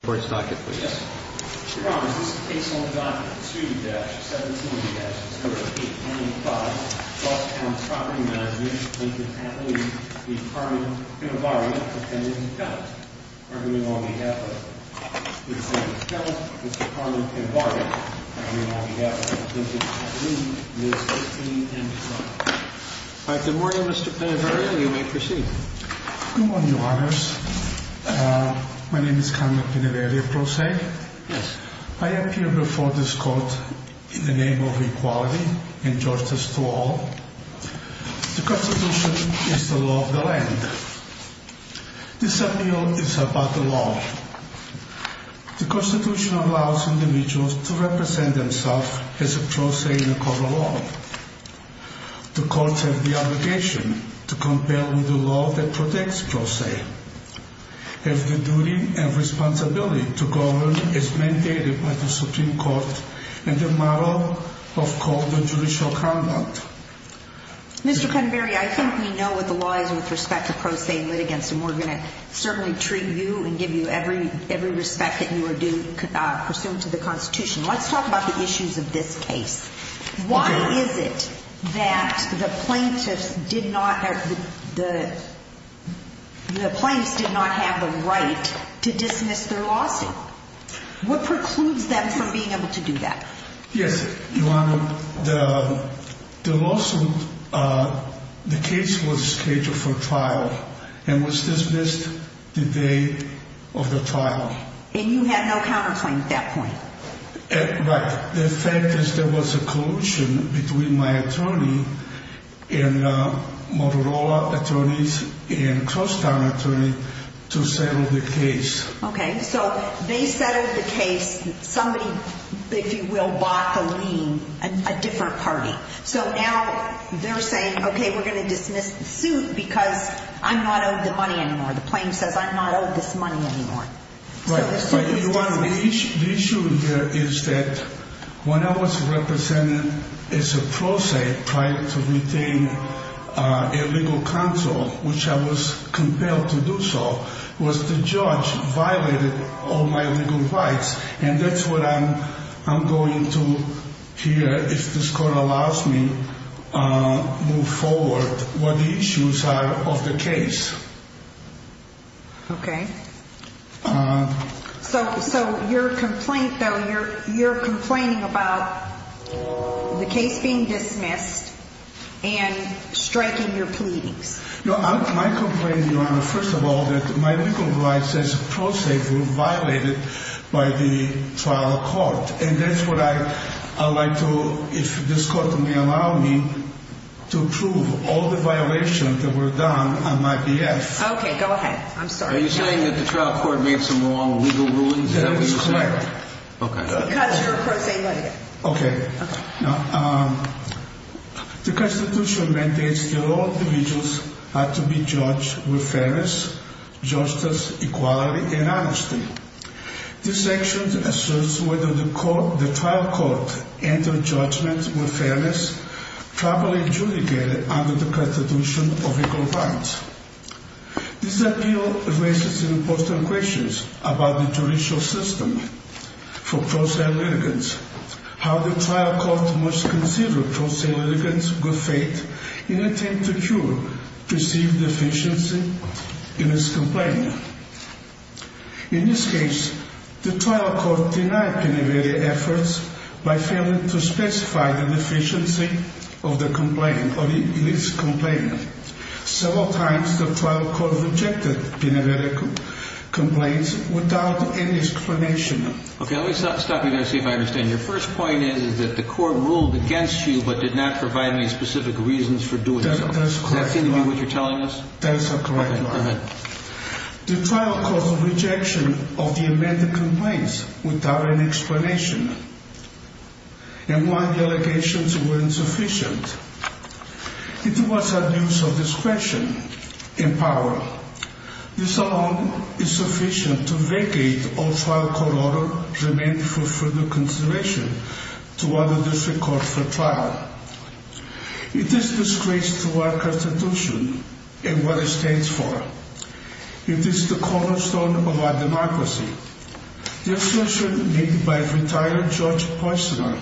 Good morning, Mr. Pinnavaria. You may proceed. Good morning, Your Honours. My name is Carmen Pinnavaria Crosse. I appear before this court in the name of equality and justice to all. The Constitution is the law of the land. This appeal is about the law. The Constitution allows individuals to represent themselves as a Crosse in a court of law. The courts have the obligation to compare with the law that protects Crosse. If the duty and responsibility to govern is mandated by the Supreme Court and the model of court and judicial conduct... Mr. Cunberry, I think we know what the law is with respect to Crosse litigants, and we're going to certainly treat you and give you every respect that you are pursuant to the Constitution. Let's talk about the issues of this case. Why is it that the plaintiffs did not have the right to dismiss their lawsuit? What precludes them from being able to do that? Yes, Your Honour. The lawsuit, the case was scheduled for trial and was dismissed the day of the trial. And you had no counterclaim at that point? Right. The fact is there was a collusion between my attorney and Motorola attorneys and Crosstown attorneys to settle the case. Okay. So they settled the case. Somebody, if you will, bought the lien, a different party. So now they're saying, okay, we're going to dismiss the suit because I'm not owed the money anymore. The plaintiff says I'm not owed this money anymore. Right. Your Honour, the issue here is that when I was represented as a prosaic trying to retain a legal counsel, which I was compelled to do so, was the judge violated all my legal rights. And that's what I'm going to hear if this Court allows me to move forward what the issues are of the case. Okay. So your complaint, though, you're complaining about the case being dismissed and striking your pleadings. No. My complaint, Your Honour, first of all, that my legal rights as a prosaic were violated by the trial court. And that's what I would like to, if this Court will allow me, to prove all the violations that were done on my behalf. Okay. Go ahead. I'm sorry. Are you saying that the trial court made some wrong legal rulings? That is correct. Okay. Because your prosaic money. Okay. The Constitution mandates that all individuals are to be judged with fairness, justice, equality, and honesty. This section asserts whether the trial court entered judgment with fairness properly adjudicated under the Constitution of Equal Rights. This appeal raises important questions about the judicial system for prosaic litigants. How the trial court must consider prosaic litigants' good faith in attempt to cure perceived deficiency in its complaint. In this case, the trial court denied Penevere efforts by failing to specify the deficiency of the complaint or its complaint. Several times, the trial court rejected Penevere complaints without any explanation. Okay. Let me stop you there and see if I understand. Your first point is that the court ruled against you but did not provide any specific reasons for doing so. That is correct, Your Honour. Does that seem to be what you're telling us? That is correct, Your Honour. Okay. Go ahead. Your Honour, the trial court's rejection of the amended complaints without any explanation. And one, the allegations were insufficient. It was abuse of discretion and power. This alone is sufficient to vacate all trial court order remained for further consideration to other district courts for trial. It is a disgrace to our Constitution and what it stands for. It is the cornerstone of our democracy. The assertion made by retired Judge Poissner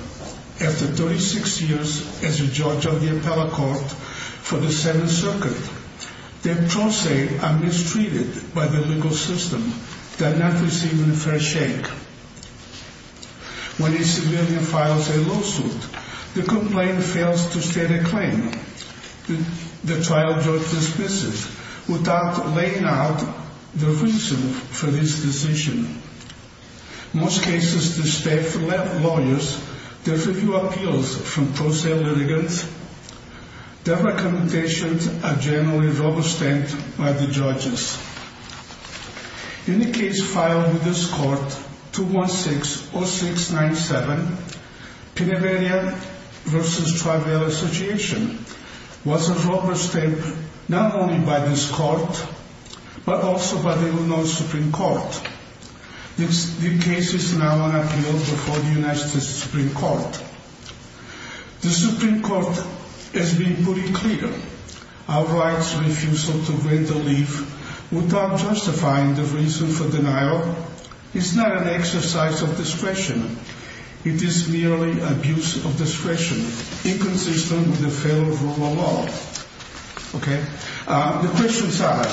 after 36 years as a judge of the appellate court for the Seventh Circuit, that prosaic are mistreated by the legal system, that are not receiving a fair shake. When a civilian files a lawsuit, the complaint fails to state a claim. The trial judge dismisses without laying out the reason for this decision. In most cases, the staff left lawyers to review appeals from prosaic litigants. Their recommendations are generally overstepped by the judges. In the case filed in this court, 2160697, Penaveria v. Tribel Association, was overstepped not only by this court, but also by the Illinois Supreme Court. The case is now on appeal before the United States Supreme Court. The Supreme Court has been pretty clear. Our right's refusal to grant a leave without justifying the reason for denial is not an exercise of discretion. It is merely abuse of discretion inconsistent with the federal rule of law. The questions are,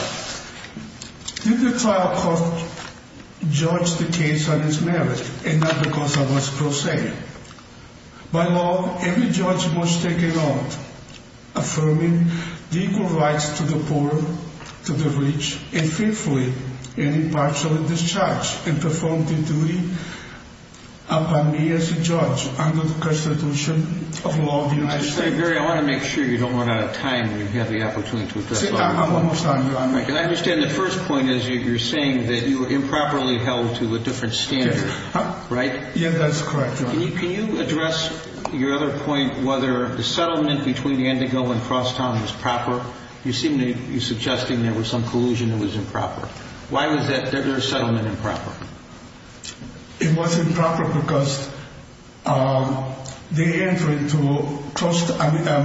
did the trial court judge the case on its merit and not because of its prosaic? By law, every judge must take an oath affirming the equal rights to the poor, to the rich, and faithfully and impartially discharge and perform the duty upon me as a judge under the constitution of law of the United States. I want to make sure you don't run out of time when you have the opportunity to address all these points. I'm almost done. I understand the first point is you're saying that you were improperly held to a different standard, right? Yeah, that's correct. Can you address your other point, whether the settlement between the Indigo and Crosstown was proper? You seem to be suggesting there was some collusion that was improper. Why was that settlement improper? It was improper because the entry to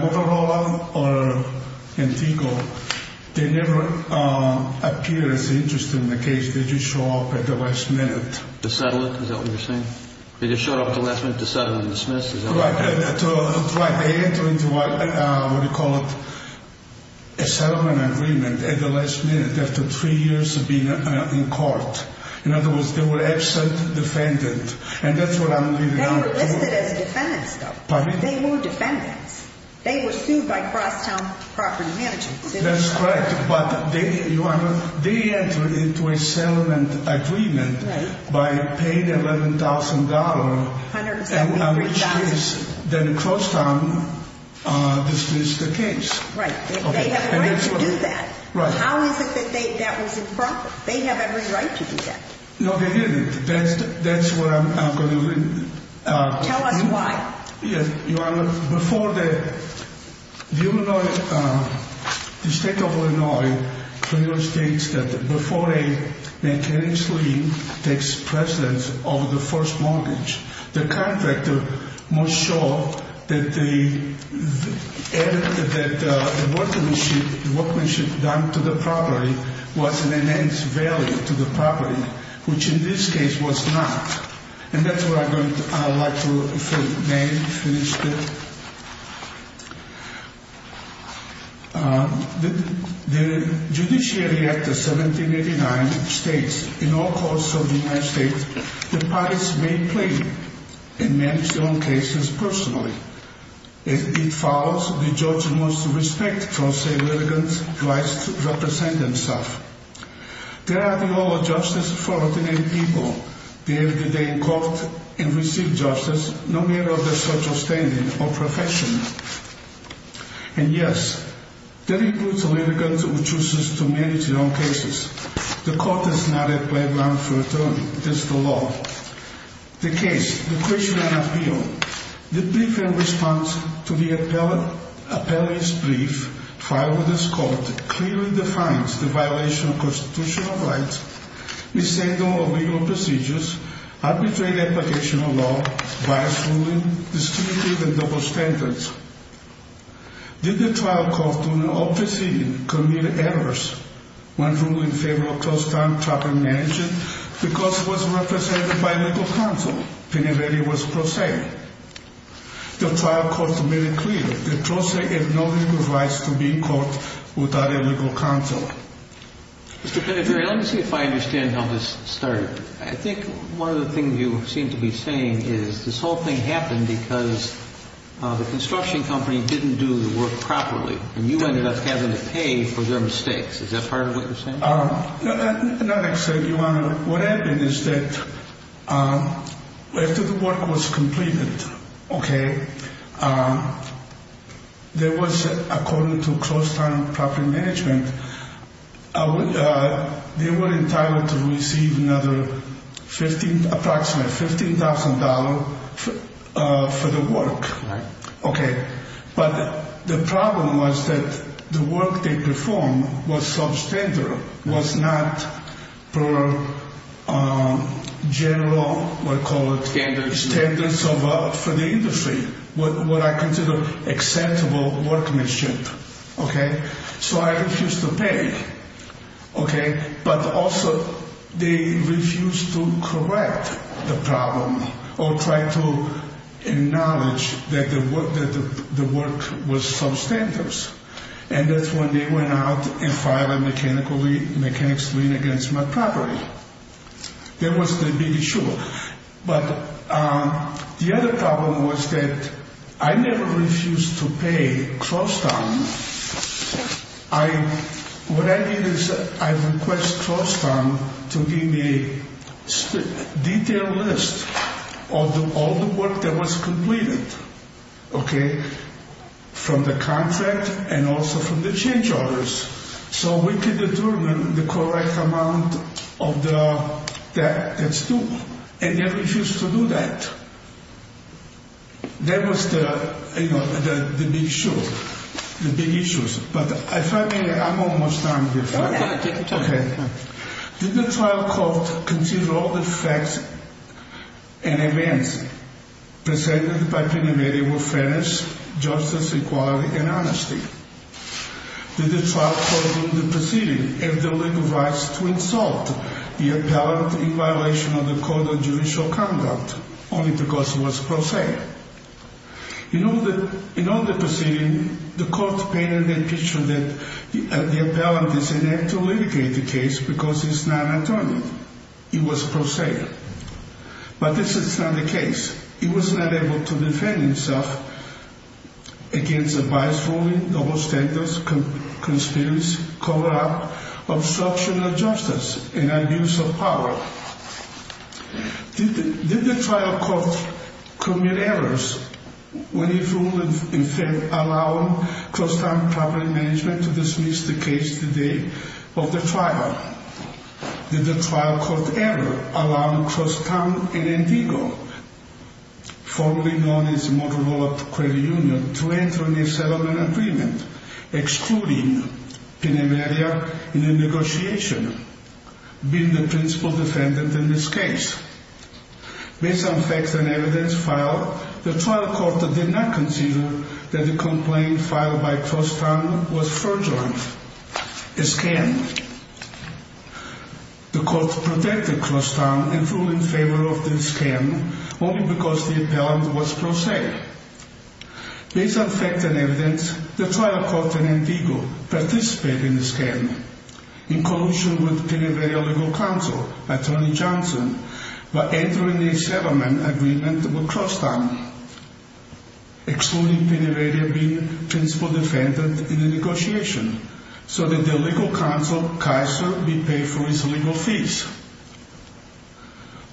Motorola or Indigo, they never appeared as interesting in the case. They just show up at the last minute. To settle it, is that what you're saying? They just show up at the last minute to settle and dismiss, is that what you're saying? That's right. They enter into what you call a settlement agreement at the last minute after three years of being in court. In other words, they were absent defendants, and that's what I'm leading on to. They were listed as defendants, though. Pardon me? They were defendants. They were sued by Crosstown Property Management. That's correct. They entered into a settlement agreement by paying $11,000, which then Crosstown dismissed the case. Right. They have a right to do that. How is it that that was improper? They have every right to do that. No, they didn't. That's where I'm going to lead. Tell us why. Yes, Your Honor. Before the state of Illinois, the federal state, before a mechanic's lien takes precedence over the first mortgage, the contractor must show that the workmanship done to the property was an immense value to the property, which in this case was not. And that's where I'd like to finish it. The Judiciary Act of 1789 states, in all courts of the United States, the parties may plead and manage their own cases personally. It follows the judge must respect, trust, and religion's rights to represent themselves. There are the law of justice for ordinary people. They have the day in court and receive justice no matter their social standing or profession. And yes, that includes a litigant who chooses to manage their own cases. The court is not a playground for attorney. That's the law. The case, the question and appeal, the brief and response to the appellee's brief filed with this court clearly defines the violation of constitutional rights, missing of legal procedures, arbitrary application of law, bias ruling, distinctive and double standards. Did the trial court do not proceed, commit errors, when ruling in favor of closed time, tracking and managing, because it was represented by legal counsel? Penelope was pro se. The trial court made it clear The pro se has no legal rights to be in court without a legal counsel. Mr. Pinedere, let me see if I understand how this started. I think one of the things you seem to be saying is this whole thing happened because the construction company didn't do the work properly, and you ended up having to pay for their mistakes. Is that part of what you're saying? Not exactly, Your Honor. What happened is that after the work was completed, okay, there was, according to closed time property management, they were entitled to receive another approximately $15,000 for the work. Right. Okay. But the problem was that the work they performed was substandard, was not per general, what do you call it? Standards. Standards for the industry, what I consider acceptable workmanship. Okay. So I refused to pay. Okay. But also they refused to correct the problem or try to acknowledge that the work was substandard. And that's when they went out and filed a mechanics lien against my property. That was the big issue. But the other problem was that I never refused to pay closed time. What I did is I requested closed time to give me a detailed list of all the work that was completed. Okay. From the contract and also from the change orders so we could determine the correct amount of the debt that's due. And they refused to do that. That was the, you know, the big issue, the big issues. But if I may, I'm almost done. No, no, take your time. Okay. Did the trial court consider all the facts and events presented by Pen Ymedi were fairness, justice, equality, and honesty? Did the trial court in the proceeding have the legal rights to insult the appellant in violation of the Code of Judicial Conduct only because he was pro se? In all the proceedings, the court painted a picture that the appellant is inept and had to litigate the case because he's not an attorney. He was pro se. But this is not the case. He was not able to defend himself against a bias ruling, double standards, conspiracy, corrupt, obstruction of justice, and abuse of power. Did the trial court commit errors when he ruled in favor of allowing closed time property management to dismiss the case the day of the trial? Did the trial court ever allow Crosstown and Indigo, formerly known as Motorola Credit Union, to enter into a settlement agreement excluding Pen Ymedi in the negotiation, being the principal defendant in this case? Based on facts and evidence filed, the trial court did not consider that the complaint filed by Crosstown was fraudulent. A scam? The court protected Crosstown in ruling in favor of the scam only because the appellant was pro se. Based on facts and evidence, the trial court and Indigo participated in the scam in collusion with Pen Ymedi Legal Counsel, attorney Johnson, by entering a settlement agreement with Crosstown excluding Pen Ymedi being the principal defendant in the negotiation so that the legal counsel, Kaiser, would be paid for his legal fees.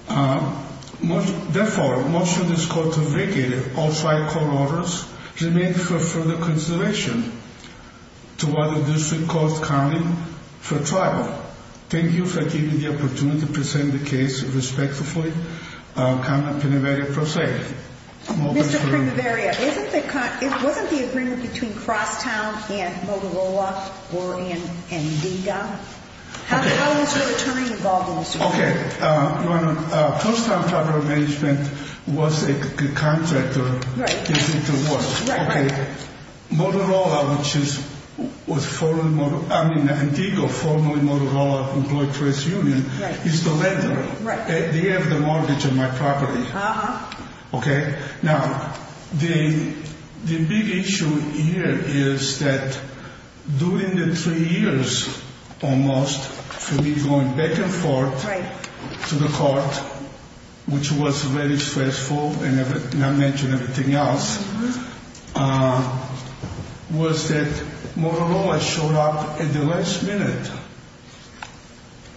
Therefore, most of this court's vigil, all trial court orders, remain for further consideration to what the district court's counting for trial. Thank you for giving me the opportunity to present the case respectfully. Counsel Pen Ymedi, pro se. Mr. Pen Ymedi, wasn't the agreement between Crosstown and Motorola or Indigo? How was your attorney involved in this? Okay. Crosstown Travel Management was a contractor. Right. Okay. Motorola, which was formerly, I mean, Indigo, formerly Motorola, employed for its union, is the lender. Right. They have the mortgage on my property. Uh-huh. Okay. Now, the big issue here is that during the three years, almost, for me going back and forth to the court, which was very stressful, and I mentioned everything else, was that Motorola showed up at the last minute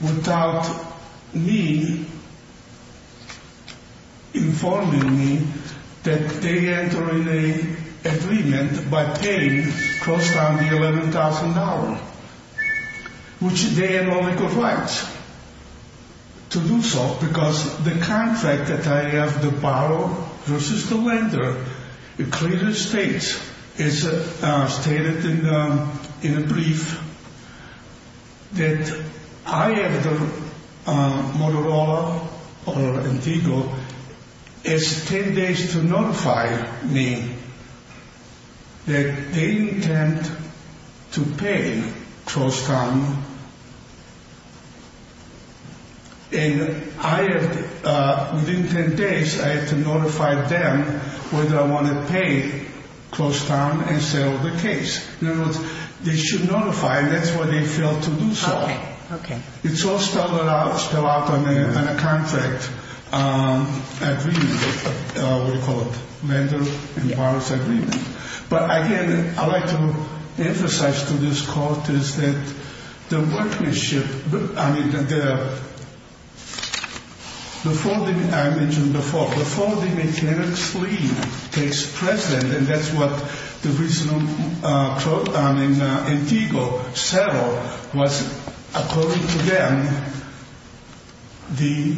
without me informing me that they entered an agreement by paying Crosstown the $11,000, which they had no legal rights to do so because the contract that I have to borrow versus the lender, it clearly states, it's stated in the brief that I have the Motorola or Indigo, it's 10 days to notify me that they intend to pay Crosstown. And I have, within 10 days, I have to notify them whether I want to pay Crosstown and settle the case. In other words, they should notify, and that's why they failed to do so. Okay. Okay. It's all spelled out on a contract agreement, we call it, lender and borrower's agreement. But again, I like to emphasize to this court is that the workmanship, I mean, before the, I mentioned before, before the mechanic's leave takes precedent, and that's what the reason Indigo settled was according to them, the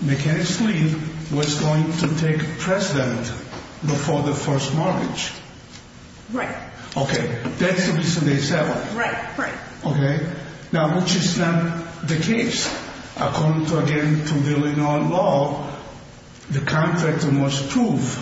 mechanic's leave was going to take precedent before the first mortgage. Right. Okay. That's the reason they settled. Right. Right. Okay. Now, which is not the case. According to, again, to the Illinois law, the contract must prove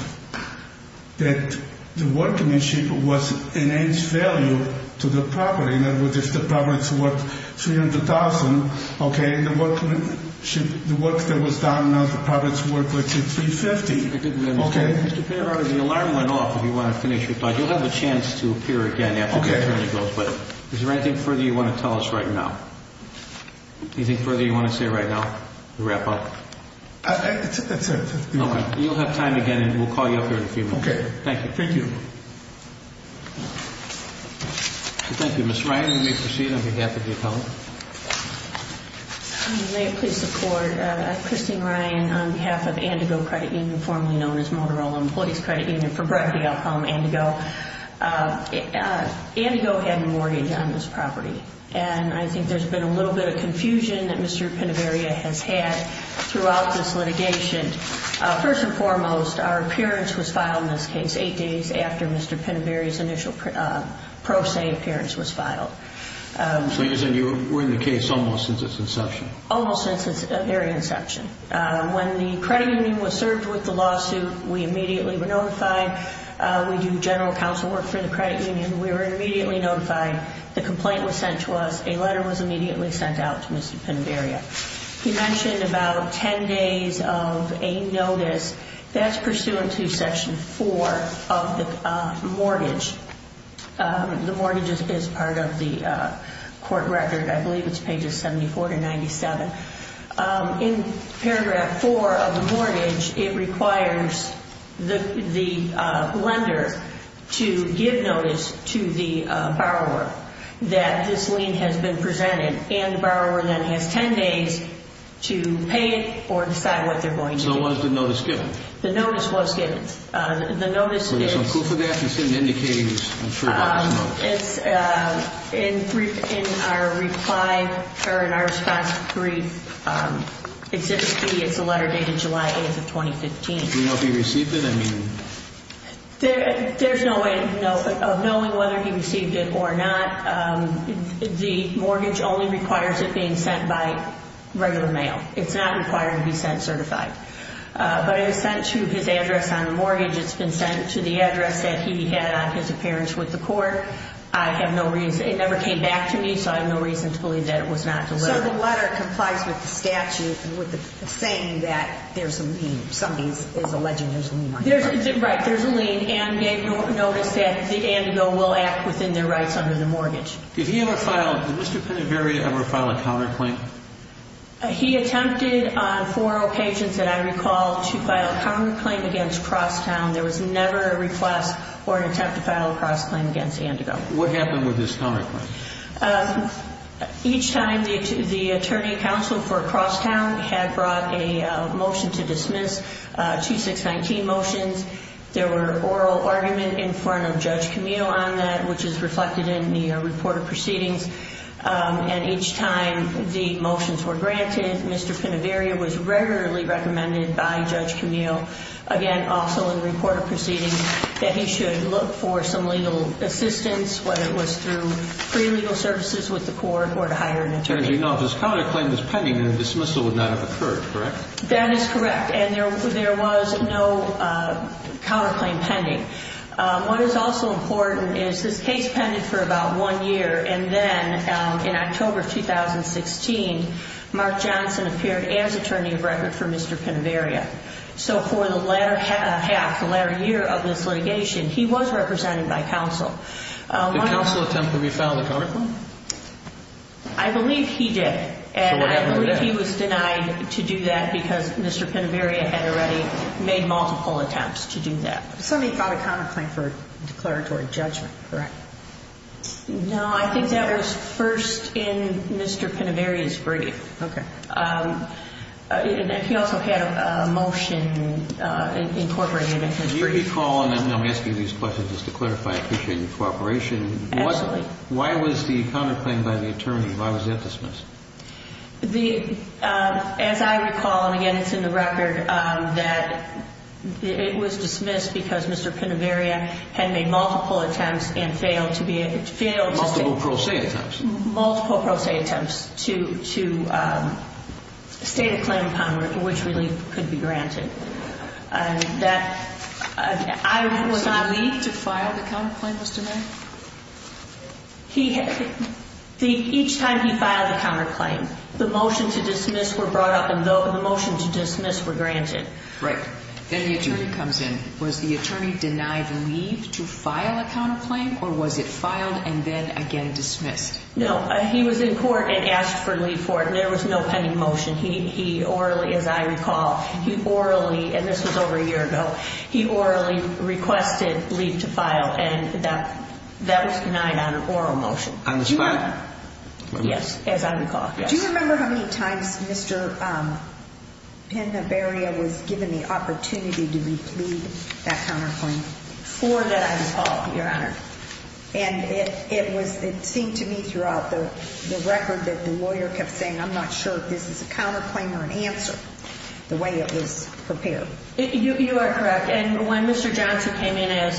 that the workmanship was an added value to the property. In other words, if the property's worth $300,000, okay, the workmanship, the work that was done on the property's worth, let's say, $350,000. Okay. Mr. Peabody, the alarm went off, if you want to finish your thought. You'll have a chance to appear again after the hearing goes, but is there anything further you want to tell us right now? Anything further you want to say right now, to wrap up? That's it. Okay. You'll have time again, and we'll call you up here in a few minutes. Okay. Thank you. Thank you. Thank you. Ms. Ryan, you may proceed on behalf of the appellant. May I please support? Christine Ryan, on behalf of Andigo Credit Union, formerly known as Motorola Employees Credit Union, for brevity, I'll call them Andigo. Andigo had a mortgage on this property, and I think there's been a little bit of confusion that Mr. Pinoveria has had throughout this litigation. First and foremost, our appearance was filed in this case eight days after Mr. Pinoveria's initial pro se appearance was filed. So you're saying you were in the case almost since its inception? Almost since its very inception. When the credit union was served with the lawsuit, we immediately were notified. We do general counsel work for the credit union. We were immediately notified. The complaint was sent to us. A letter was immediately sent out to Mr. Pinoveria. He mentioned about 10 days of a notice. That's pursuant to Section 4 of the mortgage. The mortgage is part of the court record. I believe it's pages 74 to 97. In paragraph 4 of the mortgage, it requires the lender to give notice to the borrower that this lien has been presented, and the borrower then has 10 days to pay it or decide what they're going to do. So what is the notice given? The notice was given. The notice is... Is there some proof of that? This isn't indicating I'm sure about this notice. In our reply or in our response brief, it's a letter dated July 8th of 2015. Do we know if he received it? There's no way of knowing whether he received it or not. The mortgage only requires it being sent by regular mail. It's not required to be sent certified. But it was sent to his address on the mortgage. It's been sent to the address that he had on his appearance with the court. I have no reason... It never came back to me, so I have no reason to believe that it was not delivered. So the letter complies with the statute and with the saying that there's a lien. Right, there's a lien. And gave notice that Andigo will act within their rights under the mortgage. Did he ever file... Did Mr. Pennyberry ever file a counterclaim? He attempted on four occasions that I recall to file a counterclaim against Crosstown. There was never a request or an attempt to file a crossclaim against Andigo. What happened with this counterclaim? Each time the attorney counsel for Crosstown had brought a motion to dismiss, 2619 motions, there were oral argument in front of Judge Camille on that, which is reflected in the report of proceedings. And each time the motions were granted, Mr. Pennyberry was regularly recommended by Judge Camille, again, also in the report of proceedings, that he should look for some legal assistance, whether it was through pre-legal services with the court or to hire an attorney. Now if this counterclaim was pending, then a dismissal would not have occurred, correct? That is correct. And there was no counterclaim pending. What is also important is this case pended for about one year, and then in October of 2016, Mark Johnson appeared as attorney of record for Mr. Pennyberry. So for the latter half, the latter year of this litigation, he was represented by counsel. Did counsel attempt to refile the counterclaim? I believe he did. And I believe he was denied to do that because Mr. Pennyberry had already made multiple attempts to do that. Somebody filed a counterclaim for declaratory judgment, correct? No, I think that was first in Mr. Pennyberry's brief. Okay. And he also had a motion incorporating it in his brief. Let me ask you these questions just to clarify. I appreciate your cooperation. Absolutely. Why was the counterclaim by the attorney? Why was that dismissed? As I recall, and, again, it's in the record, that it was dismissed because Mr. Pennyberry had made multiple attempts and failed to be able to do it. Multiple pro se attempts. Multiple pro se attempts to state a claim upon which really could be granted. Was there a need to file the counterclaim, Mr. Mayer? Each time he filed the counterclaim, the motion to dismiss were brought up and the motion to dismiss were granted. Right. Then the attorney comes in. Was the attorney denied leave to file a counterclaim, or was it filed and then again dismissed? No. He was in court and asked for leave for it, and there was no pending motion. He orally, as I recall, he orally, and this was over a year ago, he orally requested leave to file, and that was denied on an oral motion. On the spot? Yes, as I recall. Do you remember how many times Mr. Pennyberry was given the opportunity to replead that counterclaim? Before that I was called, Your Honor. And it seemed to me throughout the record that the lawyer kept saying, I'm not sure if this is a counterclaim or an answer, the way it was prepared. You are correct. And when Mr. Johnson came in as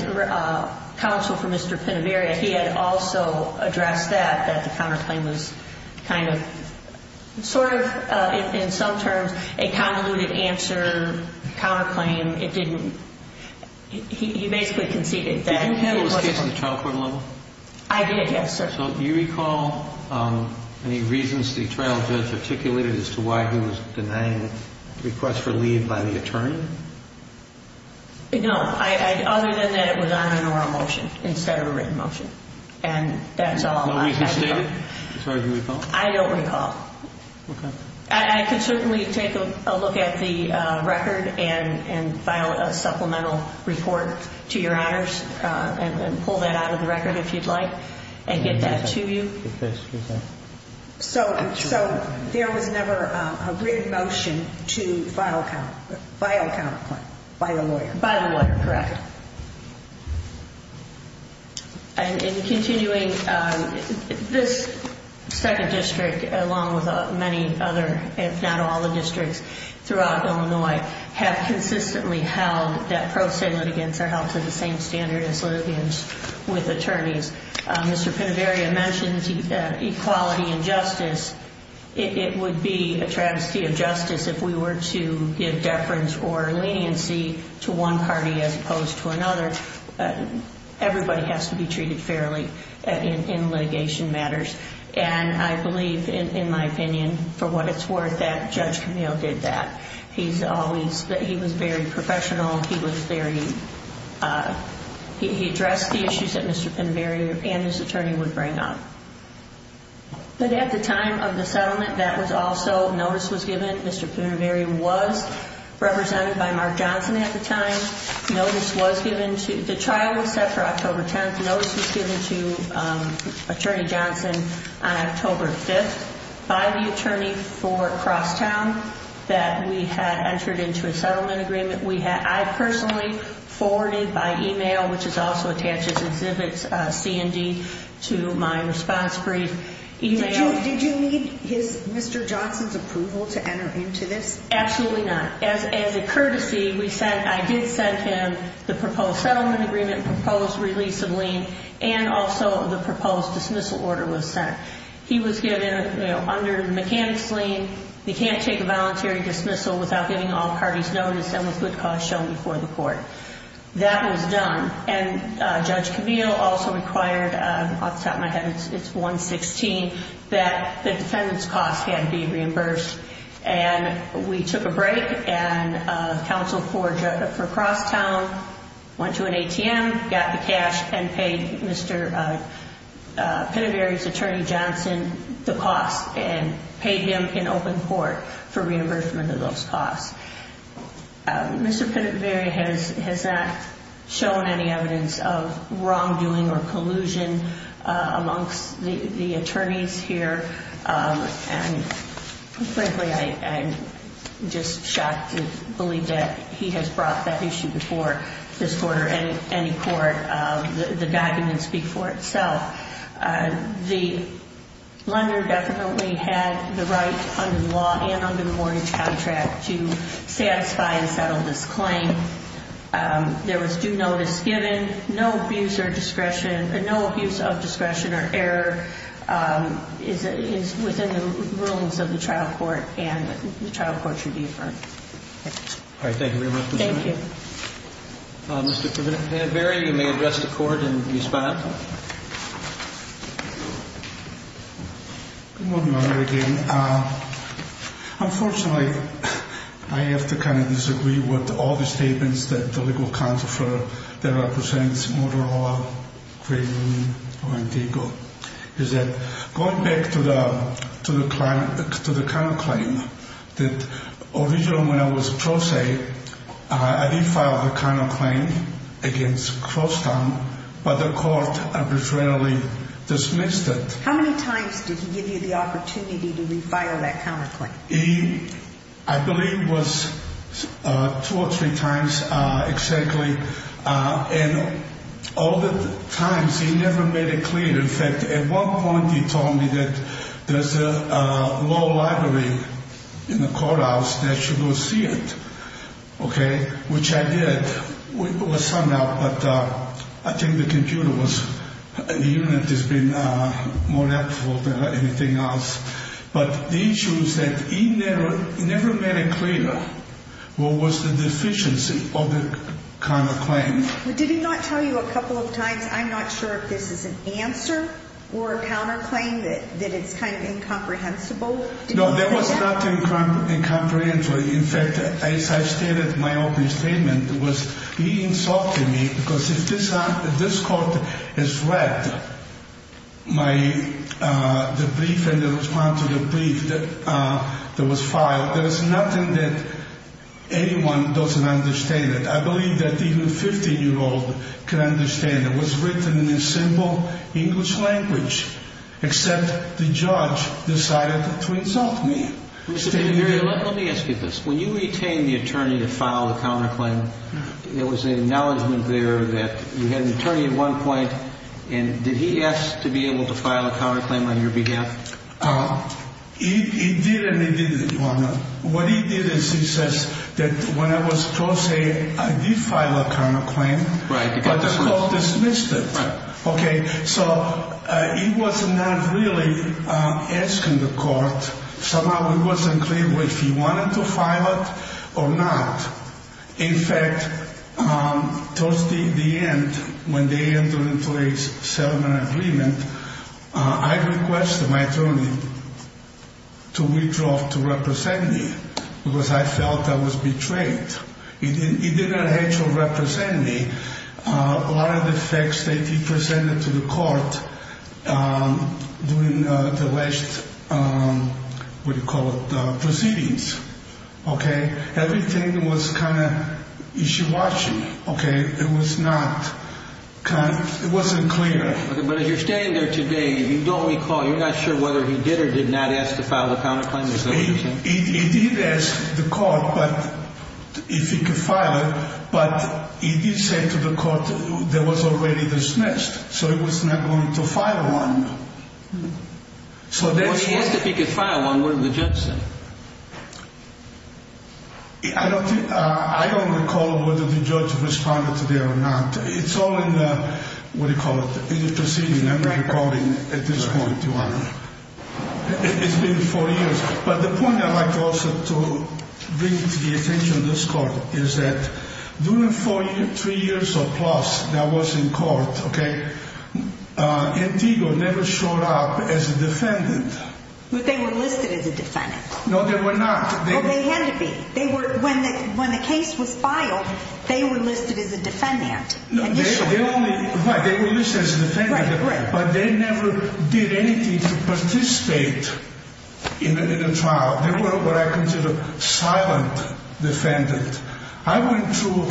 counsel for Mr. Pennyberry, he had also addressed that, that the counterclaim was kind of sort of in some terms a convoluted answer, counterclaim, it didn't, he basically conceded that. Did you handle this case in the trial court level? I did, yes, sir. So do you recall any reasons the trial judge articulated as to why he was denying request for leave by the attorney? No, other than that it was on an oral motion instead of a written motion, and that's all I can recall. No reason stated, as far as you recall? I don't recall. Okay. I can certainly take a look at the record and file a supplemental report to Your Honors, and pull that out of the record if you'd like, and get that to you. So there was never a written motion to file a counterclaim by the lawyer? By the lawyer, correct. And in continuing, this second district, along with many other, if not all the districts throughout Illinois, have consistently held that pro se litigants are held to the same standard as litigants with attorneys. Mr. Penaveria mentioned equality and justice. It would be a travesty of justice if we were to give deference or leniency to one party as opposed to another. Everybody has to be treated fairly in litigation matters. And I believe, in my opinion, for what it's worth, that Judge Camille did that. He was very professional. He addressed the issues that Mr. Penaveria and his attorney would bring up. But at the time of the settlement, that was also, notice was given. Mr. Penaveria was represented by Mark Johnson at the time. The trial was set for October 10th. The notice was given to Attorney Johnson on October 5th by the attorney for Crosstown that we had entered into a settlement agreement. I personally forwarded by email, which is also attached as exhibits, C&D, to my response brief. Did you need Mr. Johnson's approval to enter into this? Absolutely not. As a courtesy, I did send him the proposed settlement agreement, proposed release of lien, and also the proposed dismissal order was sent. He was given, under the mechanics lien, he can't take a voluntary dismissal without giving all parties notice and with good cause shown before the court. That was done. And Judge Camille also required, off the top of my head, it's 116, that the defendant's cost had to be reimbursed. And we took a break, and counsel for Crosstown went to an ATM, got the cash, and paid Mr. Penaveria's attorney Johnson the cost, and paid him in open court for reimbursement of those costs. Mr. Penaveria has not shown any evidence of wrongdoing or collusion amongst the attorneys here. And frankly, I'm just shocked to believe that he has brought that issue before this court or any court. The documents speak for itself. The lender definitely had the right under the law and under the mortgage contract to satisfy and settle this claim. There was due notice given. No abuse of discretion or error is within the rulings of the trial court, and the trial court should be affirmed. All right. Thank you very much. Thank you. Mr. Penaveria, you may address the court and respond. Good morning, Your Honor. Again, unfortunately, I have to kind of disagree with all the statements that the legal counsel that represents Motorola, Green, or Indigo, is that going back to the counterclaim, that originally when I was pro se, I did file the counterclaim against Crosstown, but the court arbitrarily dismissed it. How many times did he give you the opportunity to refile that counterclaim? I believe it was two or three times exactly, and all the times he never made it clear. In fact, at one point he told me that there's a law library in the courthouse that should go see it, okay, which I did. It was summed up, but I think the computer unit has been more helpful than anything else. But the issue is that he never made it clear what was the deficiency of the counterclaim. Did he not tell you a couple of times, I'm not sure if this is an answer or a counterclaim, that it's kind of incomprehensible? No, that was not incomprehensible. In fact, as I stated in my opening statement, he insulted me because if this court has read the brief and responded to the brief that was filed, there is nothing that anyone doesn't understand. I believe that even a 15-year-old can understand. It was written in a simple English language, except the judge decided to insult me. Let me ask you this. When you retained the attorney to file the counterclaim, there was an acknowledgment there that you had an attorney at one point, and did he ask to be able to file a counterclaim on your behalf? He did and he didn't, Your Honor. What he did is he says that when I was tossed in, I did file a counterclaim, but the court dismissed it. Okay, so he was not really asking the court. Somehow it wasn't clear if he wanted to file it or not. In fact, towards the end, when they entered into a settlement agreement, I requested my attorney to withdraw to represent me because I felt I was betrayed. He didn't actually represent me. A lot of the facts that he presented to the court during the last, what do you call it, proceedings, okay, everything was kind of ishiwashi, okay? It was not kind of, it wasn't clear. Okay, but as you're standing there today, you don't recall, you're not sure whether he did or did not ask to file a counterclaim? He did ask the court if he could file it, but he did say to the court that it was already dismissed, so he was not going to file one. If he asked if he could file one, what did the judge say? I don't recall whether the judge responded to that or not. It's all in the, what do you call it, the proceedings, I'm not recalling at this point, Your Honor. It's been four years. But the point I'd like also to bring to the attention of this court is that during three years or plus that was in court, okay, Antigua never showed up as a defendant. But they were listed as a defendant. No, they were not. Well, they had to be. When the case was filed, they were listed as a defendant initially. Right, they were listed as a defendant, but they never did anything to participate in the trial. They were what I consider silent defendants. I went through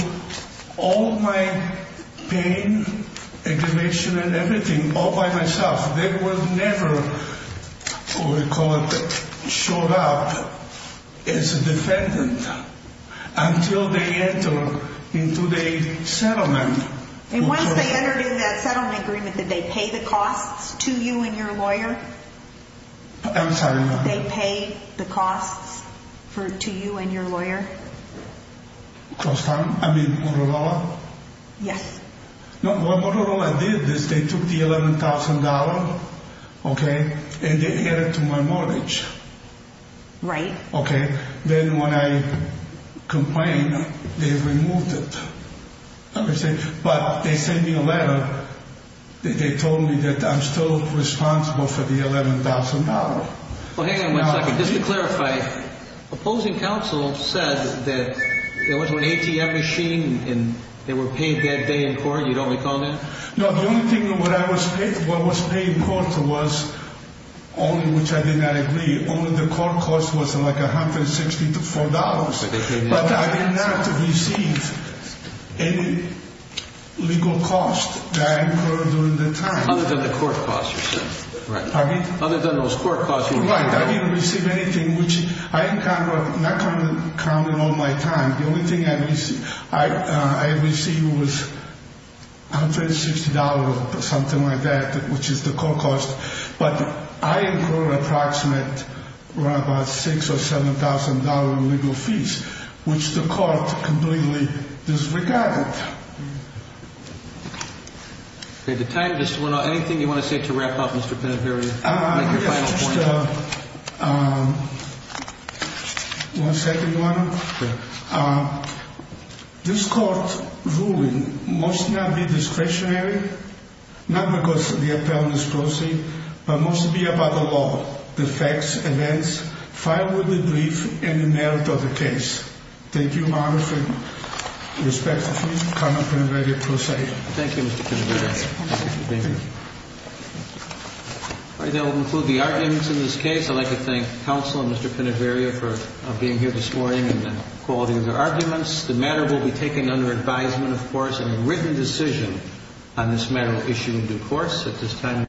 all my pain, aggravation, and everything all by myself. They were never, what we call it, showed up as a defendant until they entered into the settlement. And once they entered into that settlement agreement, did they pay the costs to you and your lawyer? I'm sorry, Your Honor. Did they pay the costs to you and your lawyer? I mean, Motorola? Yes. No, what Motorola did is they took the $11,000, okay, and they added it to my mortgage. Right. Okay. Then when I complained, they removed it. But they sent me a letter. They told me that I'm still responsible for the $11,000. Well, hang on one second. Just to clarify, opposing counsel said that there was an ATM machine and they were paid that day in court. You don't recall that? No, the only thing that was paid in court was, only which I did not agree, only the court costs was like $164. But I did not receive any legal costs that I incurred during that time. Other than the court costs, you're saying? Right. I didn't receive anything which I incurred, not counting all my time. The only thing I received was $160 or something like that, which is the court cost. But I incurred an approximate of about $6,000 or $7,000 in legal fees, which the court completely disregarded. Okay. The time just went on. Anything you want to say to wrap up, Mr. Penaverio? I guess just one second, Your Honor. Okay. This court ruling must not be discretionary, not because the appellant is closing, but must be about the law, the facts, events, firewood, the brief, and the merit of the case. Thank you, Your Honor. With respect, please come up and ready to proceed. Thank you, Mr. Penaverio. Thank you. All right. That will conclude the arguments in this case. I'd like to thank counsel and Mr. Penaverio for being here this morning and the quality of their arguments. The matter will be taken under advisement, of course, and a written decision on this matter will issue in due course at this time.